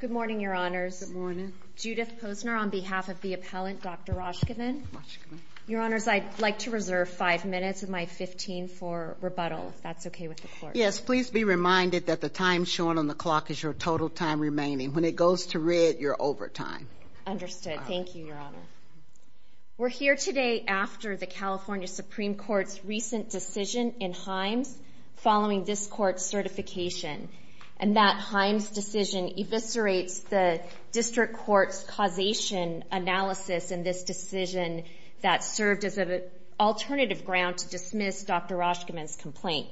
Good morning, Your Honors. Judith Posner on behalf of the appellant, Dr. Roshkovan. Your Honors, I'd like to reserve 5 minutes of my 15 for rebuttal, if that's okay with the Court. Yes, please be reminded that the time shown on the clock is your total time remaining. When it goes to red, you're over time. Understood. Thank you, Your Honor. We're here today after the California Supreme Court's recent decision in Himes following this Court's certification, and that Himes decision eviscerates the District Court's causation analysis in this decision that served as an alternative ground to dismiss Dr. Roshkovan's complaint.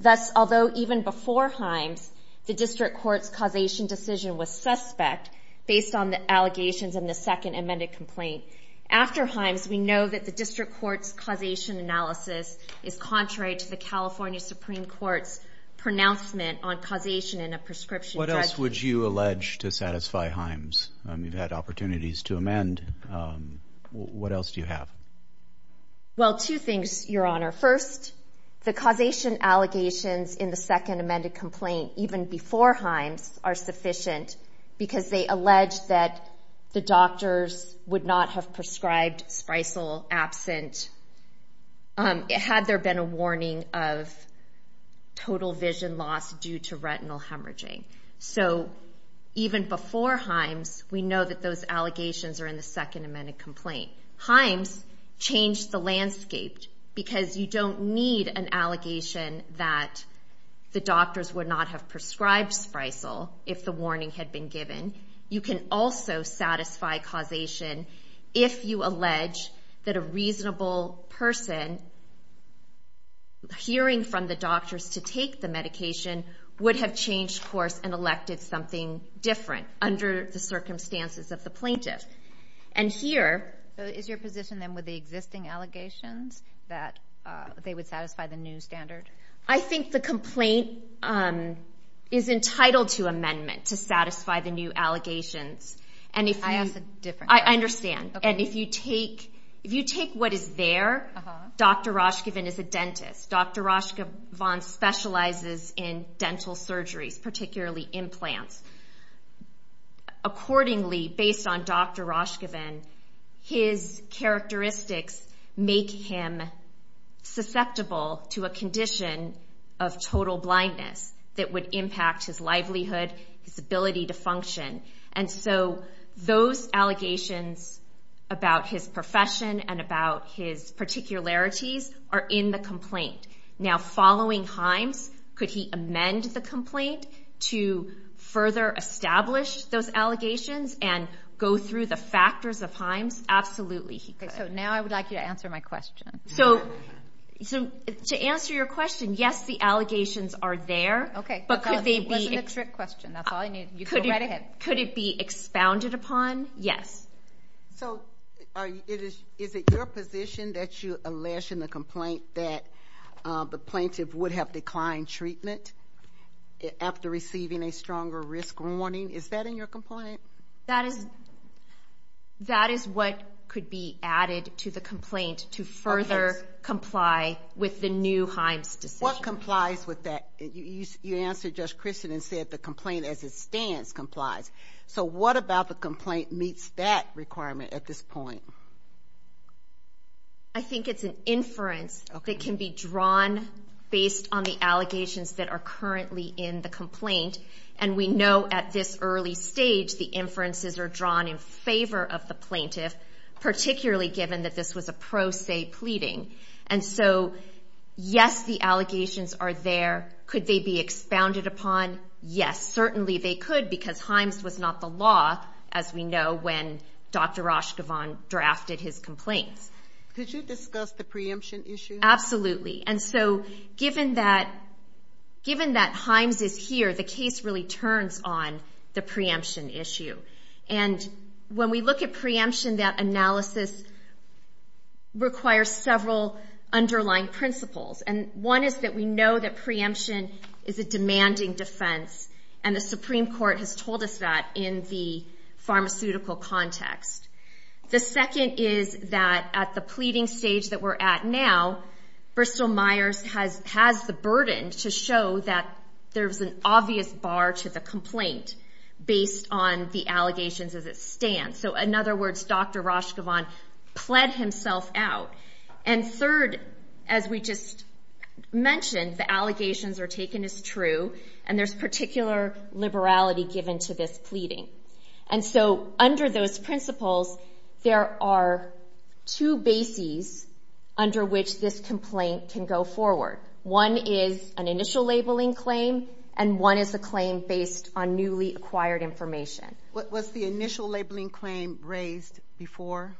Thus, although even before Himes, the District Court's causation decision was suspect based on the allegations in the second amended complaint, after Himes, we know that the District Court's causation analysis is contrary to the California Supreme Court's pronouncement on causation in a prescription judgment. What else would you allege to satisfy Himes? You've had opportunities to amend. What else do you have? Well, two things, Your Honor. First, the causation allegations in the second amended complaint, even before Himes, are sufficient because they allege that the doctors would not have prescribed Spreisel absent, had there been a warning of total vision loss due to retinal hemorrhaging. So even before Himes, we know that those allegations are in the second amended complaint. Himes changed the landscape because you don't need an allegation that the doctors would not have prescribed Spreisel if the warning had been given. You can also satisfy causation if you allege that a reasonable person hearing from the doctors to take the medication would have changed course and elected something different under the circumstances of the plaintiff. Is your position then with the existing allegations that they would satisfy the new standard? I think the complaint is entitled to amendment to satisfy the new allegations. I understand. And if you take what is there, Dr. Rashkevan is a dentist. Dr. Rashkevan specializes in dental surgeries, particularly implants. Accordingly, based on Dr. Rashkevan, his characteristics make him susceptible to a condition of total blindness that would impact his livelihood, his ability to function. And so those allegations about his profession and about his particularities are in the complaint. Now, following Himes, could he amend the complaint to further establish those allegations and go through the factors of Himes? Absolutely, he could. Now I would like you to answer my question. To answer your question, yes, the allegations are there, but could they be expounded upon? Yes. So is it your position that you allege in the complaint that the plaintiff would have declined treatment after receiving a stronger risk warning? Is that in your complaint? That is what could be added to the complaint to further comply with the new Himes decision. What complies with that? You answered just Kristen and said the complaint as it stands complies. So what about the complaint meets that requirement at this point? I think it's an inference that can be drawn based on the allegations that are currently in the complaint. And we know at this early stage the inferences are drawn in favor of the plaintiff, particularly given that this was a pro se pleading. And so yes, the allegations are there. Could they be expounded upon? Yes, certainly they could because Himes was not the law, as we know, when Dr. Rashkevan drafted his complaints. Could you discuss the preemption issue? Absolutely. And so given that Himes is here, the case really turns on the preemption issue. And when we look at preemption, that analysis requires several underlying principles. And one is that we know that preemption is a demanding defense. And the Supreme Court has told us that in the pharmaceutical context. The second is that at the pleading stage that we're at now, Bristol-Myers has the burden to show that there is an stance. So in other words, Dr. Rashkevan pled himself out. And third, as we just mentioned, the allegations are taken as true and there's particular liberality given to this pleading. And so under those principles, there are two bases under which this complaint can go forward. One is an initial labeling claim and one is a claim based on newly acquired information. Was the initial labeling claim raised before?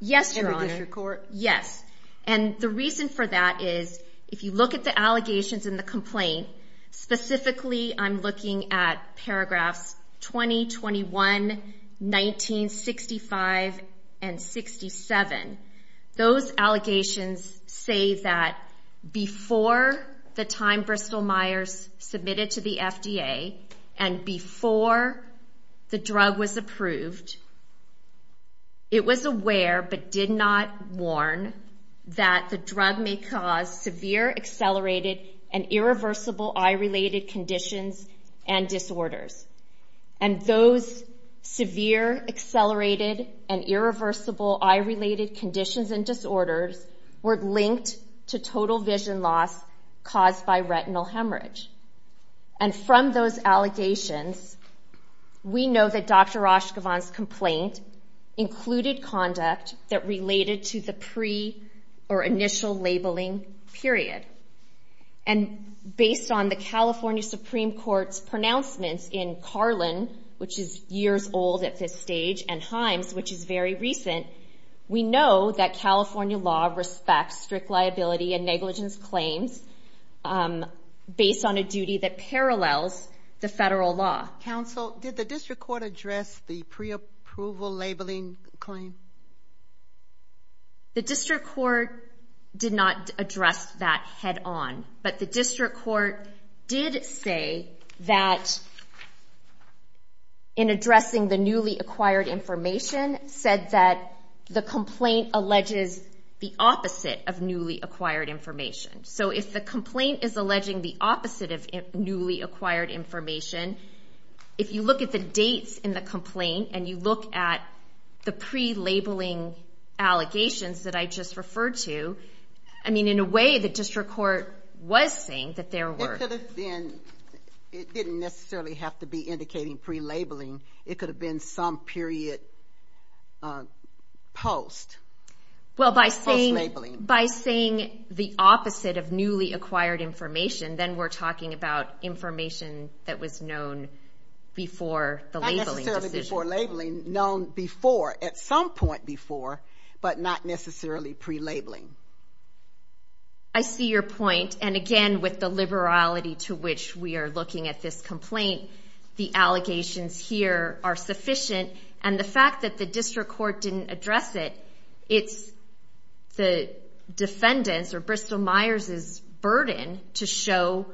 Yes, Your Honor. In the district court? Yes. And the reason for that is if you look at the allegations in the complaint, specifically I'm looking at paragraphs 20, 21, 19, 65, and 67. Those allegations say that before the time Bristol-Myers submitted to the FDA and before the drug was approved, it was aware but did not warn that the drug may cause severe accelerated and irreversible eye-related conditions and disorders. And those severe accelerated and irreversible eye-related conditions and disorders were linked to total vision loss caused by retinal hemorrhage. And from those allegations, we know that Dr. Rashkevan's complaint included conduct that related to the pre or initial labeling period. And based on the California Supreme Court's pronouncements in Carlin, which is years old at this stage, and Himes, which is very recent, we know that California law respects strict liability and negligence claims based on a duty that parallels the federal law. Counsel, did the district court address the pre-approval labeling claim? The district court did not address that head on, but the district court did say that in addressing the newly acquired information said that the complaint alleges the opposite of newly acquired information. So if the complaint is alleging the opposite of newly acquired information, if you look at the dates in the complaint and you look at the pre-labeling allegations that I just referred to, I mean, in a way the district court was saying that there were. It didn't necessarily have to be post. Post labeling. Well, by saying the opposite of newly acquired information, then we're talking about information that was known before the labeling decision. Not necessarily before labeling, known before, at some point before, but not necessarily pre-labeling. I see your point. And again, with the liberality to which we are looking at this complaint, the allegations here are sufficient. And the fact that the district court didn't address it, it's the defendant's or Bristol Myers' burden to show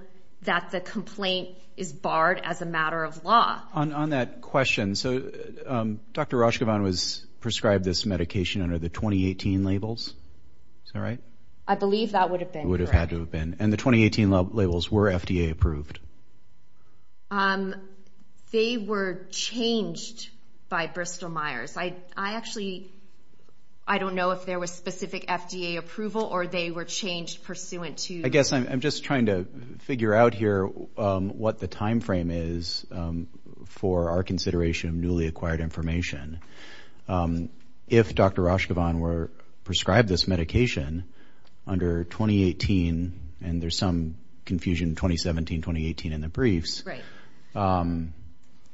that the complaint is barred as a matter of law. On that question, so Dr. Rashkevan was prescribed this medication under the 2018 labels, is that right? I believe that would have been correct. And the 2018 labels were FDA approved. They were changed by Bristol Myers. I actually, I don't know if there was specific FDA approval or they were changed pursuant to. I guess I'm just trying to figure out here what the time frame is for our consideration of newly acquired information. If Dr. Rashkevan were prescribed this medication under 2018, and there's some confusion, 2017, 2018 in the briefs, and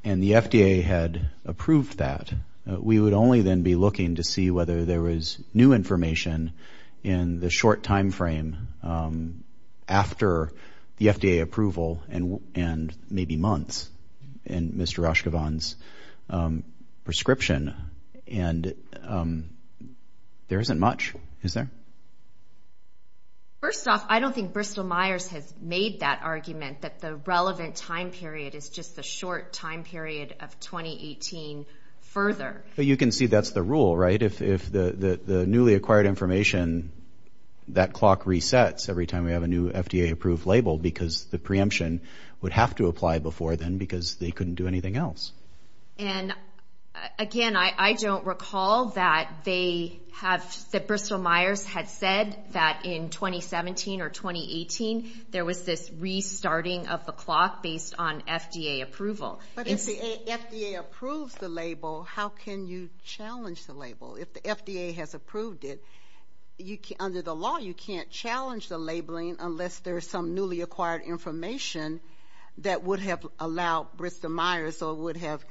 the FDA had approved that, we would only then be looking to see whether there was new information in the short time frame after the FDA approval and maybe months in Mr. Rashkevan's prescription. And there isn't much, is there? First off, I don't think Bristol Myers has made that argument that the relevant time period is just the short time period of 2018 further. You can see that's the rule, right? If the newly acquired information, that clock resets every time we have a new FDA approved label, because the preemption would have to apply before then because they couldn't do anything else. And again, I don't recall that they have, that Bristol Myers had said that in 2017 or 2018 there was this restarting of the clock based on FDA approval. But if the FDA approves the label, how can you challenge the label? If the FDA has approved it, under the law you can't challenge the labeling unless there's some newly acquired information that would have allowed Bristol Myers or would have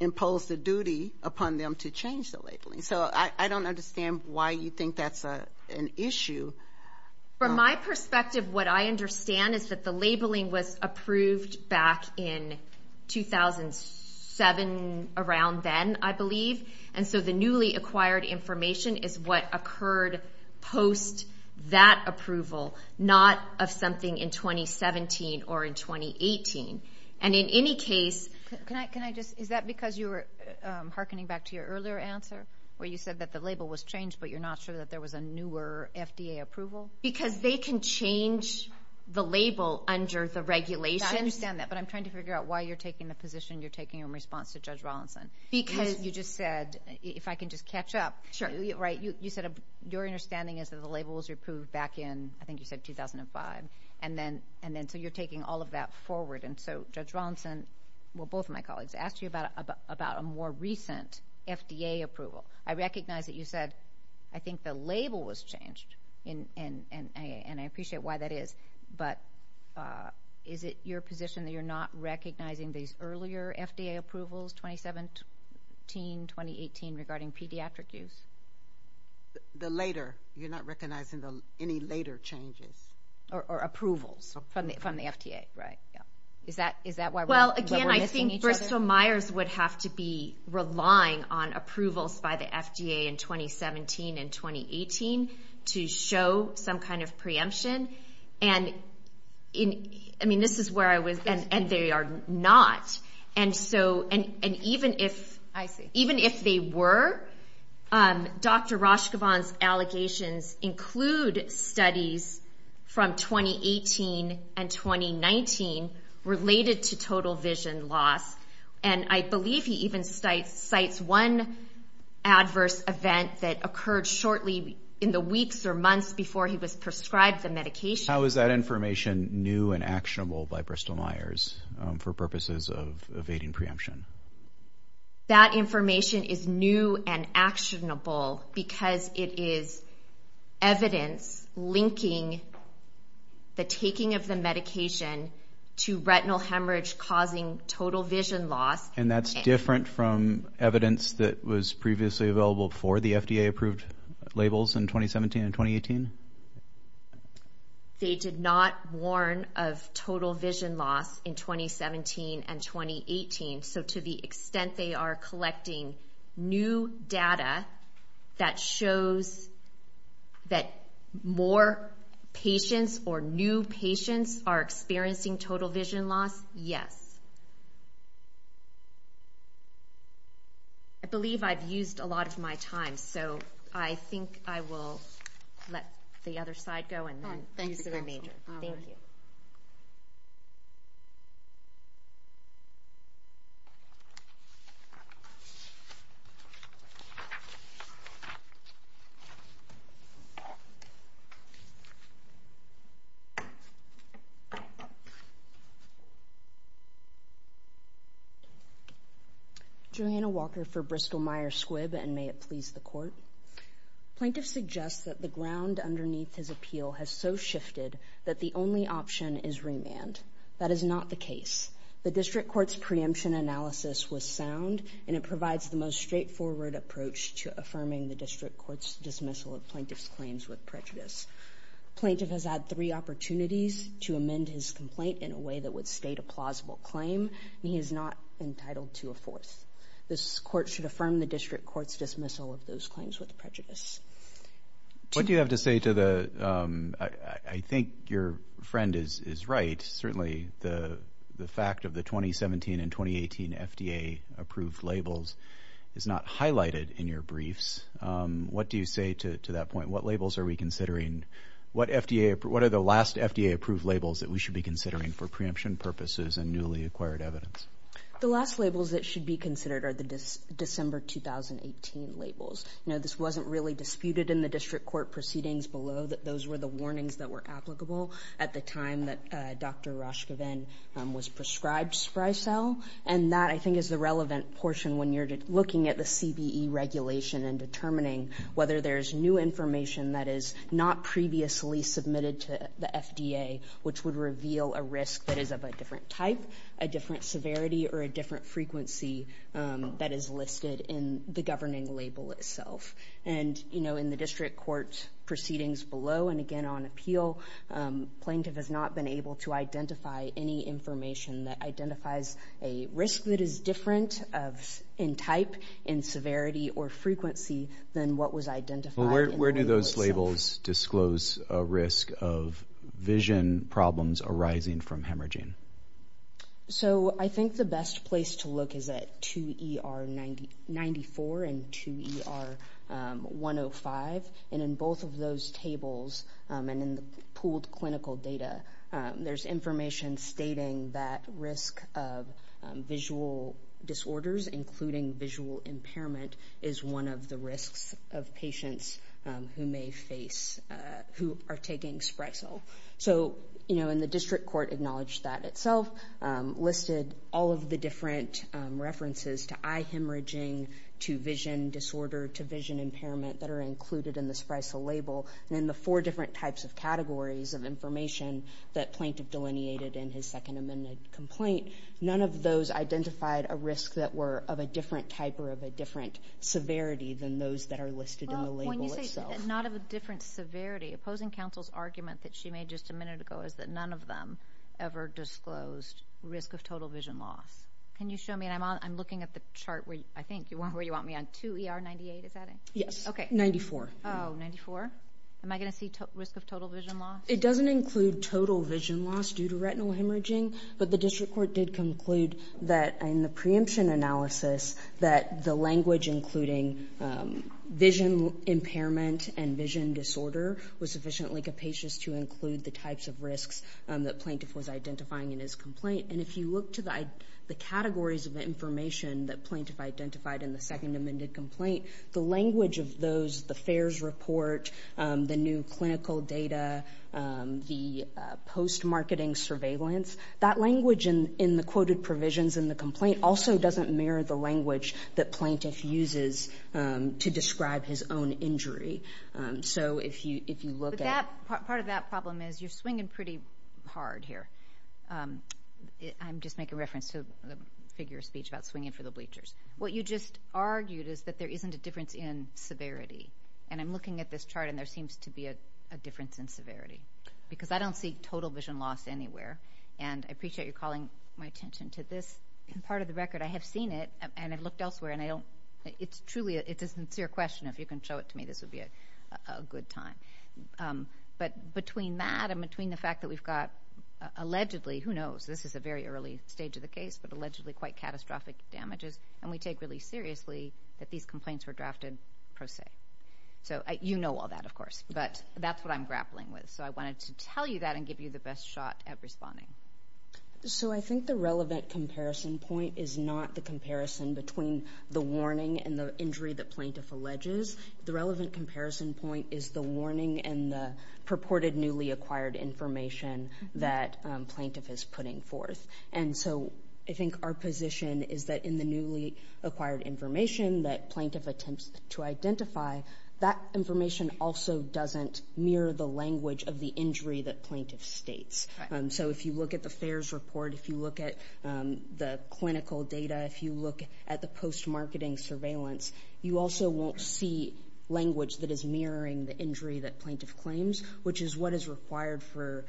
imposed a duty upon them to change the labeling. So I don't understand why you think that's an issue. From my perspective, what I understand is that the labeling was approved back in 2007 around then, I believe. And so the newly acquired information is what occurred post that approval, not of something in 2017 or in 2018. And in any case... Is that because you were hearkening back to your earlier answer where you said that the label was changed but you're not sure that there was a newer FDA approval? Because they can change the label under the regulations. I understand that, but I'm trying to figure out why you're taking the position you're taking in response to Judge Rawlinson. Because you just said, if I can just catch up. Your understanding is that the label was approved back in, I think you said 2005. So you're taking all of that forward. And so Judge Rawlinson, well, both of my colleagues asked you about a more recent FDA approval. I recognize that you said, I think the label was changed. And I appreciate why that is. But is it your position that you're not recognizing these earlier FDA approvals, 2017, 2018, regarding pediatric use? The later. You're not recognizing any later changes. Or approvals from the FDA. Is that why we're missing each other? Well, again, I think Bristol-Myers would have to be relying on approvals by the FDA in 2017 and 2018 to show some kind of preemption. And this is where I was, and they are not. And even if they were, Dr. Rashkevan's allegations include studies from 2018 and 2019 related to total vision loss. And I believe he even cites one adverse event that occurred shortly in the weeks or months before he was prescribed the medication. How is that information new and actionable by Bristol-Myers for purposes of evading preemption? That information is new and actionable because it is evidence linking the taking of the medication to retinal hemorrhage causing total vision loss. And that's different from evidence that was previously available for the FDA approved labels in 2017 and 2018? They did not warn of total vision loss in 2017 and 2018. So to the extent they are collecting new data that shows that more patients or new patients are experiencing total vision loss, yes. I believe I've used a lot of my time. So I think I will let the other side go. Thank you. Julianna Walker for Bristol-Myers Squibb and may it please the court. Plaintiff suggests that the ground underneath his appeal has so shifted that the only option is remand. That is not the case. The district court's preemption analysis was sound and it provides the most straightforward approach to affirming the district court's dismissal of plaintiff's claims with prejudice. Plaintiff has had three opportunities to amend his complaint in a way that would state a plausible claim. He is not entitled to a fourth. I think your friend is right. Certainly the fact of the 2017 and 2018 FDA approved labels is not highlighted in your briefs. What do you say to that point? What labels are we considering? What are the last FDA approved labels that we should be considering for preemption purposes and newly acquired evidence? Thank you. I think it's important to note that the FDA approved label wasn't really disputed in the district court proceedings below. Those were the warnings that were applicable at the time that Dr. was prescribed. And that I think is the relevant portion when you're looking at the CBE regulation and determining whether there's new information that is not previously submitted to the FDA, which would reveal a risk that is of a different type, a different severity or a different frequency that is listed in the governing label itself. And, you know, in the district court proceedings below and again on appeal, plaintiff has not been able to identify any information that identifies a risk that is different in type, in severity or frequency than what was identified. Where do those labels disclose a risk of vision problems arising from hemorrhaging? So I think the best place to look is at 2 ER 94 and 2 ER 11. And in both of those tables and in the pooled clinical data, there's information stating that risk of visual disorders, including visual impairment, is one of the risks of patients who may face, who are taking Sprexel. So, you know, in the district court acknowledged that itself, listed all of the different references to eye hemorrhaging, to vision disorder, to vision impairment. That are included in the Sprexel label. And in the four different types of categories of information that plaintiff delineated in his second amended complaint, none of those identified a risk that were of a different type or of a different severity than those that are listed in the label itself. Well, when you say not of a different severity, opposing counsel's argument that she made just a minute ago is that none of them ever disclosed risk of total vision loss. Can you show me, and I'm looking at the chart, I think, where you want me on, 2 ER 98, is that it? Yes, 94. Oh, 94. Am I going to see risk of total vision loss? It doesn't include total vision loss due to retinal hemorrhaging, but the district court did conclude that in the preemption analysis, that the language including vision impairment and vision disorder was sufficiently capacious to include the types of risks that plaintiff was identifying in his complaint. And if you look to the categories of information that plaintiff identified in the second amended complaint, the language of those, the FAERS report, the new clinical data, the post-marketing surveillance, that language in the quoted provisions in the complaint also doesn't mirror the language that plaintiff uses to describe his own injury. So if you look at... Part of that problem is you're swinging pretty hard here. I'm just making reference to the figure of speech about swinging for the bleachers. What you just argued is that there isn't a difference in severity, and I'm looking at this chart, and there seems to be a difference in severity, because I don't see total vision loss anywhere, and I appreciate your calling my attention to this part of the record. I have seen it, and I've looked elsewhere, and I don't... It's truly... It's a sincere question. If you can show it to me, this would be a good time. But between that and between the fact that we've got allegedly... Who knows? This is a very early stage of the case, but allegedly quite catastrophic damages, and we take really seriously that these complaints were drafted pro se. So you know all that, of course, but that's what I'm grappling with. So I wanted to tell you that and give you the best shot at responding. So I think the relevant comparison point is not the comparison between the warning and the injury the plaintiff alleges. The relevant comparison point is the warning and the purported newly acquired information that plaintiff is putting forth. And so I think our position is that in the newly acquired information that plaintiff attempts to identify, that information also doesn't mirror the language of the injury that plaintiff states. So if you look at the FAERS report, if you look at the clinical data, if you look at the post-marketing surveillance, you also won't see language that is mirroring the injury that plaintiff claims, which is what is required for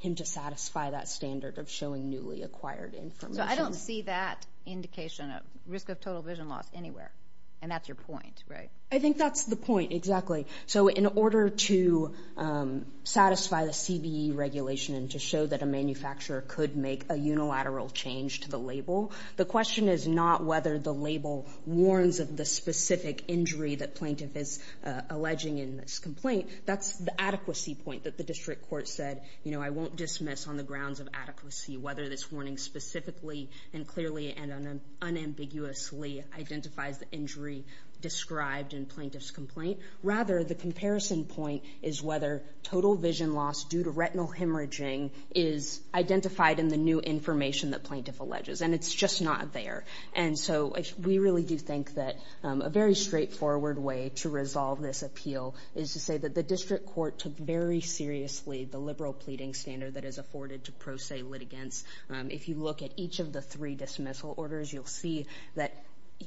him to satisfy that standard of showing newly acquired information. So I don't see that indication of risk of total vision loss anywhere, and that's your point, right? I think that's the point, exactly. So in order to satisfy the CBE regulation and to show that a manufacturer could make a unilateral change to the label, the question is not whether the label warns of the specific injury that plaintiff is alleging in this complaint. That's the adequacy point that the district court said, you know, I won't dismiss on the grounds of adequacy whether this warning specifically and clearly and unambiguously identifies the injury described in plaintiff's complaint. Rather, the comparison point is whether total vision loss due to retinal hemorrhaging is identified in the new information that plaintiff alleges, and it's just not there. And so we really do think that a very straightforward way to resolve this appeal is to say that the district court took very seriously the liberal pleading standard that is afforded to pro se litigants. If you look at each of the three dismissal orders, you'll see that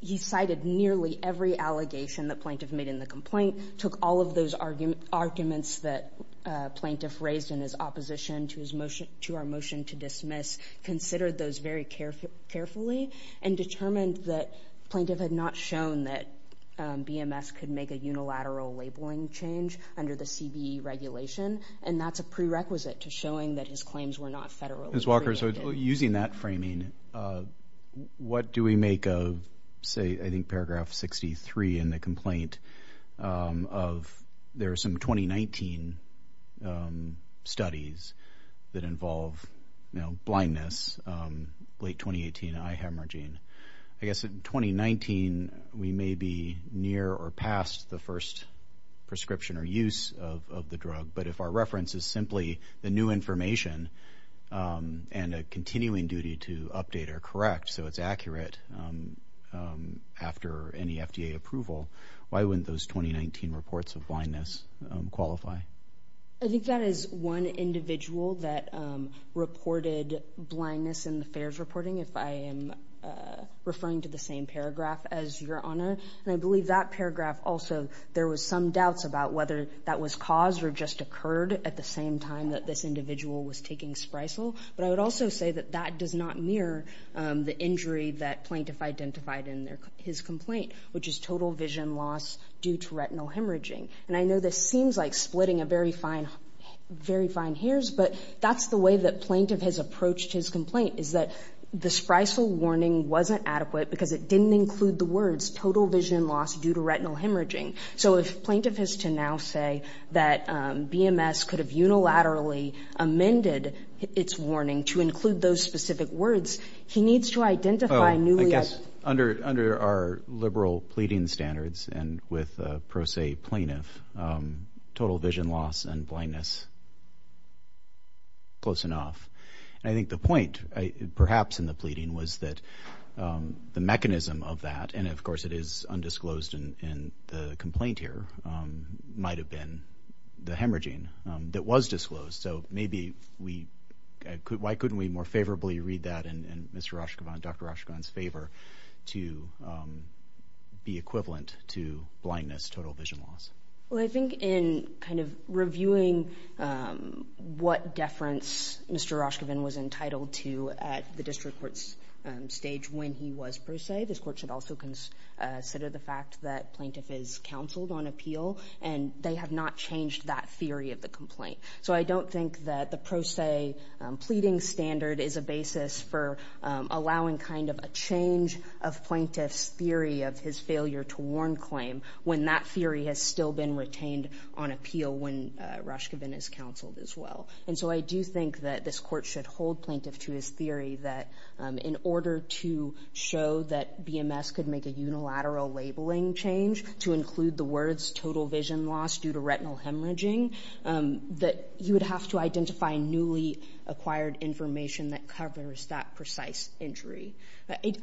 he cited nearly every allegation that plaintiff made in the complaint, took all of those arguments that plaintiff raised in his opposition to our motion to dismiss, considered those very carefully, and determined that plaintiff had not shown that BMS could make a unilateral labeling change under the CBE regulation, and that's a prerequisite to showing that his claims were not federally created. Ms. Walker, so using that framing, what do we make of, say, I think paragraph 63 in the complaint of there are some 2019 studies that involve, you know, blindness, late 2018 eye hemorrhaging. I guess in 2019 we may be near or past the first prescription or use of the drug, but if our reference is simply the new information and a continuing duty to update or correct so it's accurate after any FDA approval, why wouldn't those 2019 reports of blindness qualify? I think that is one individual that reported blindness in the FAERS reporting, if I am referring to the same paragraph as Your Honor, and I believe that paragraph also there was some doubts about whether that was caused or just occurred at the same time that this individual was taking Sprycel, but I would also say that that does not mirror the injury that plaintiff identified in his complaint, which is total vision loss due to retinal hemorrhaging. And I know this seems like splitting a very fine hairs, but that's the way that plaintiff has approached his complaint, is that the Sprycel warning wasn't adequate because it didn't include the words total vision loss due to retinal hemorrhaging. So if plaintiff has to now say that BMS could have unilaterally amended its warning to include those specific words, he needs to identify newly... I guess under our liberal pleading standards and with pro se plaintiff, total vision loss and blindness. Close enough. And I think the point perhaps in the pleading was that the mechanism of that, and of course it is undisclosed in the complaint here, might have been the hemorrhaging that was disclosed. So maybe we... Why couldn't we more favorably read that in Mr. Rashkevan, Dr. Rashkevan's favor, to be equivalent to blindness, total vision loss? Well, I think in kind of reviewing what deference Mr. Rashkevan was entitled to at the district court's stage when he was pro se, this court should also consider the fact that plaintiff is counseled on appeal and they have not changed that theory of the complaint. So I don't think that the pro se pleading standard is a basis for allowing kind of a change of plaintiff's theory of his failure to warn claim when that theory has still been retained on appeal when Rashkevan is counseled as well. And so I do think that this court should hold plaintiff to his theory that in order to show that BMS could make a unilateral labeling change to include the words total vision loss due to retinal hemorrhaging, that you would have to identify newly acquired information that covers that precise injury.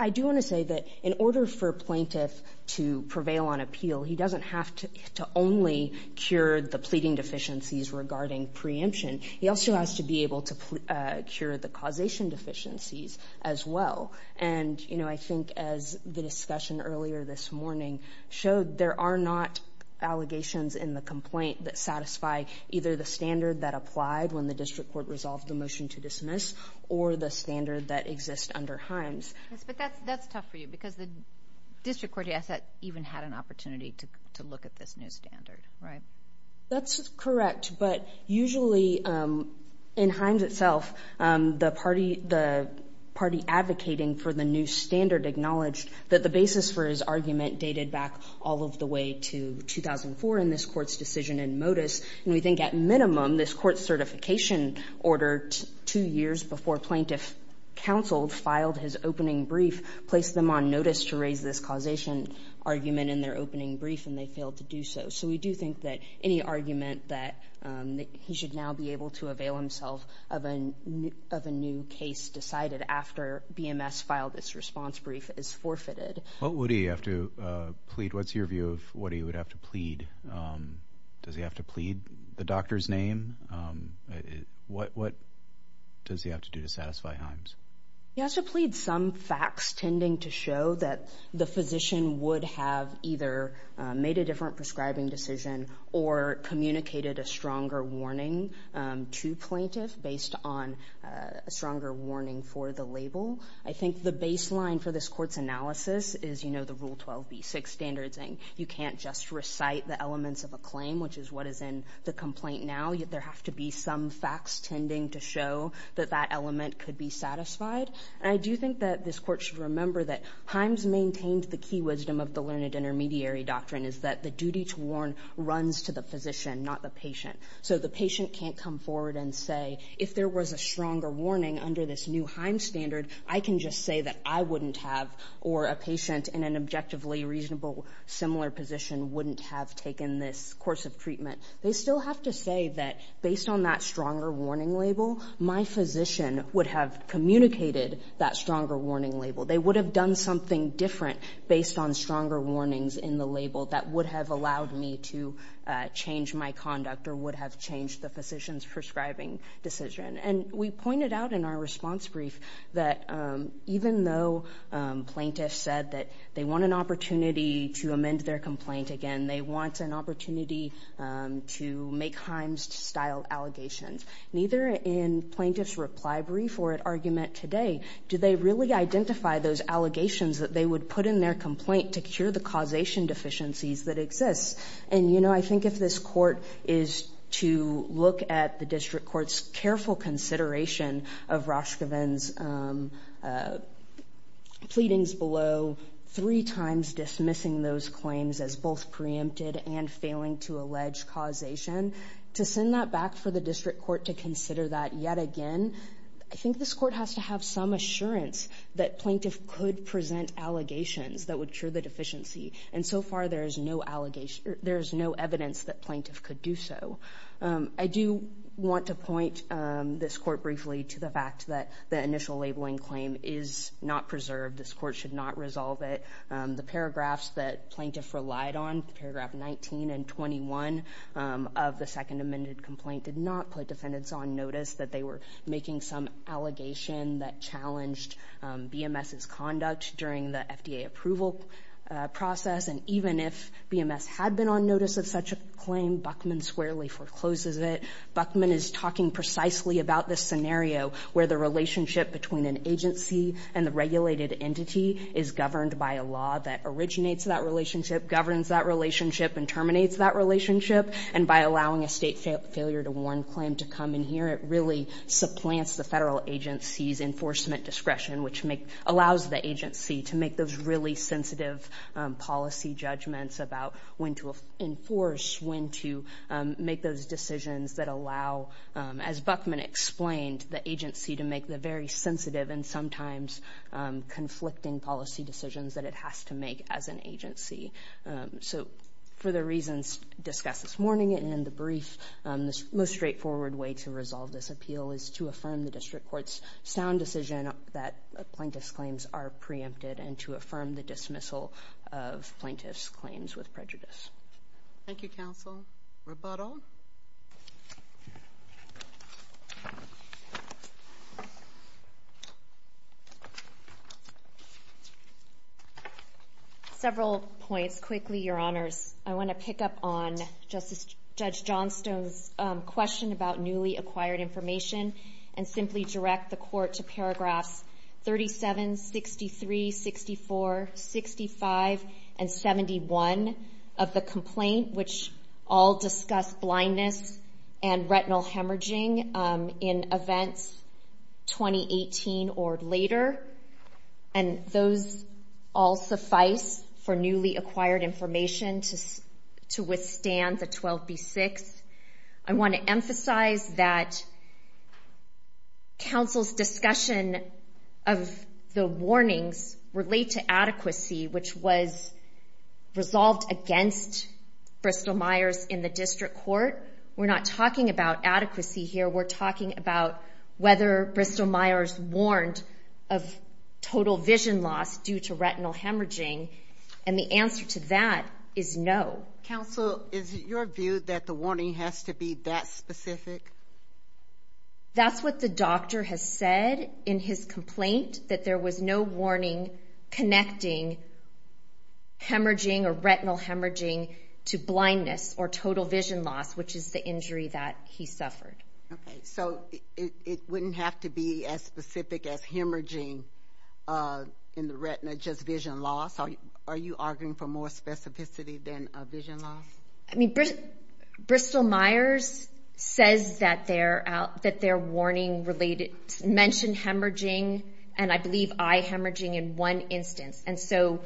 I do want to say that in order for plaintiff to prevail on appeal, he doesn't have to only cure the pleading deficiencies regarding preemption. He also has to be able to cure the causation deficiencies as well. And, you know, I think as the discussion earlier this morning showed, there are not allegations in the complaint that satisfy either the standard that applied when the district court resolved the motion to dismiss or the standard that exists under Himes. But that's tough for you because the district court even had an opportunity to look at this new standard, right? That's correct. But usually in Himes itself, the party advocating for the new standard acknowledged that the basis for his argument dated back all of the way to 2004 in this court's decision in modus. And we think at minimum this court's certification order two years before plaintiff counseled filed his opening brief placed them on notice to raise this causation argument in their opening brief, and they failed to do so. So we do think that any argument that he should now be able to avail himself of a new case decided after BMS filed this response brief is forfeited. What would he have to plead? What's your view of what he would have to plead? Does he have to plead the doctor's name? What does he have to do to satisfy Himes? He has to plead some facts tending to show that the physician would have either made a different prescribing decision or communicated a stronger warning to plaintiff based on a stronger warning for the label. I think the baseline for this court's analysis is, you know, the Rule 12b-6 standards saying you can't just recite the elements of a claim, which is what is in the complaint now, yet there have to be some facts tending to show that that element could be satisfied. And I do think that this court should remember that Himes maintained the key wisdom of the learned intermediary doctrine is that the duty to warn runs to the physician, not the patient. So the patient can't come forward and say, if there was a stronger warning under this new Himes standard, I can just say that I wouldn't have, or a patient in an objectively reasonable similar position wouldn't have taken this course of treatment. They still have to say that, based on that stronger warning label, my physician would have communicated that stronger warning label. They would have done something different based on stronger warnings in the label that would have allowed me to change my conduct or would have changed the physician's prescribing decision. And we pointed out in our response brief that even though plaintiffs said that they want an opportunity to amend their complaint again, they want an opportunity to make Himes-style allegations, neither in plaintiff's reply brief or at argument today. Do they really identify those allegations that they would put in their complaint to cure the causation deficiencies that exist? And, you know, I think if this court is to look at the district court's careful consideration of Raskoven's pleadings below, three times dismissing those claims as both preempted and failing to allege causation, to send that back for the district court to consider that yet again, I think this court has to have some assurance that plaintiff could present allegations that would cure the deficiency. And so far there is no evidence that plaintiff could do so. I do want to point this court briefly to the fact that the initial labeling claim is not preserved. This court should not resolve it. The paragraphs that plaintiff relied on, paragraph 19 and 21 of the second amended complaint did not put defendants on notice that they were making some allegation that challenged BMS's conduct during the FDA approval process. And even if BMS had been on notice of such a claim, Buckman squarely forecloses it. Buckman is talking precisely about this scenario where the relationship between an agency and the regulated entity is governed by a law that originates that relationship, governs that relationship, and terminates that relationship, and by allowing a state failure to warn claim to come in here, it really supplants the federal agency's enforcement discretion, which allows the agency to make those really sensitive policy judgments about when to enforce, when to make those decisions that allow, as Buckman explained, the agency to make the very sensitive and sometimes conflicting policy decisions that it has to make as an agency. So for the reasons discussed this morning and in the brief, the most straightforward way to resolve this appeal is to affirm the district court's sound decision that plaintiff's claims are preempted and to affirm the dismissal of plaintiff's claims with prejudice. Thank you, counsel. Rebuttal. Several points. Quickly, Your Honors. I want to pick up on Justice Judge Johnstone's question about newly acquired information and simply direct the court to paragraphs 37, 63, 64, 65, and 71 of the complaint, which all discuss blindness and retinal hemorrhaging in events 2018 or later. And those all suffice for newly acquired information to withstand the 12B6. I want to emphasize that counsel's discussion of the warnings relate to resolved against Bristol-Myers in the district court. We're not talking about adequacy here. We're talking about whether Bristol-Myers warned of total vision loss due to retinal hemorrhaging. And the answer to that is no. Counsel, is it your view that the warning has to be that specific? That's what the doctor has said in his complaint, that there was no warning connecting hemorrhaging or retinal hemorrhaging to blindness or total vision loss, which is the injury that he suffered. So it wouldn't have to be as specific as hemorrhaging in the retina, just vision loss? Are you arguing for more specificity than vision loss? Bristol-Myers says that their warning mentioned hemorrhaging, and I believe eye hemorrhaging in one instance. And so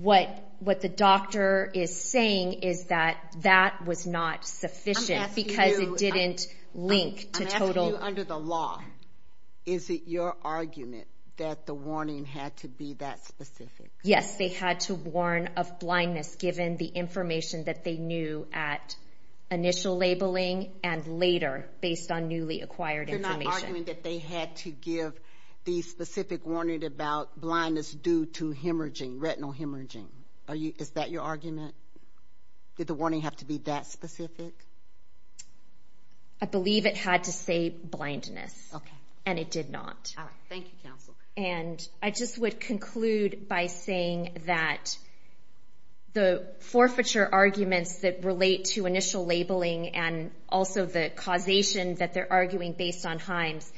what the doctor is saying is that that was not sufficient because it didn't link to total. I'm asking you under the law, is it your argument that the warning had to be that specific? Yes, they had to warn of blindness, given the information that they knew at initial labeling and later based on newly acquired information. You're not arguing that they had to give the specific warning about blindness due to hemorrhaging, retinal hemorrhaging? Is that your argument? Did the warning have to be that specific? I believe it had to say blindness, and it did not. Thank you, counsel. And I just would conclude by saying that the forfeiture arguments that relate to initial labeling and also the causation that they're arguing based on Himes,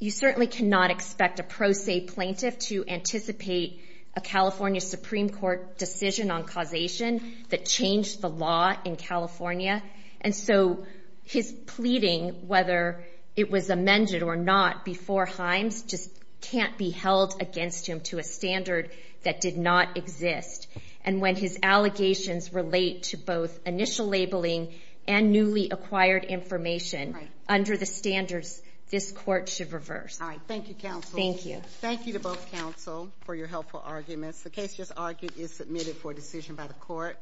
you certainly cannot expect a pro se plaintiff to anticipate a California Supreme Court decision on causation that changed the law in California. And so his pleading, whether it was amended or not, before Himes just can't be held against him to a standard that did not exist. And when his allegations relate to both initial labeling and newly acquired information, under the standards, this court should reverse. All right. Thank you, counsel. Thank you. Thank you to both counsel for your helpful arguments. The case just argued is submitted for decision by the court.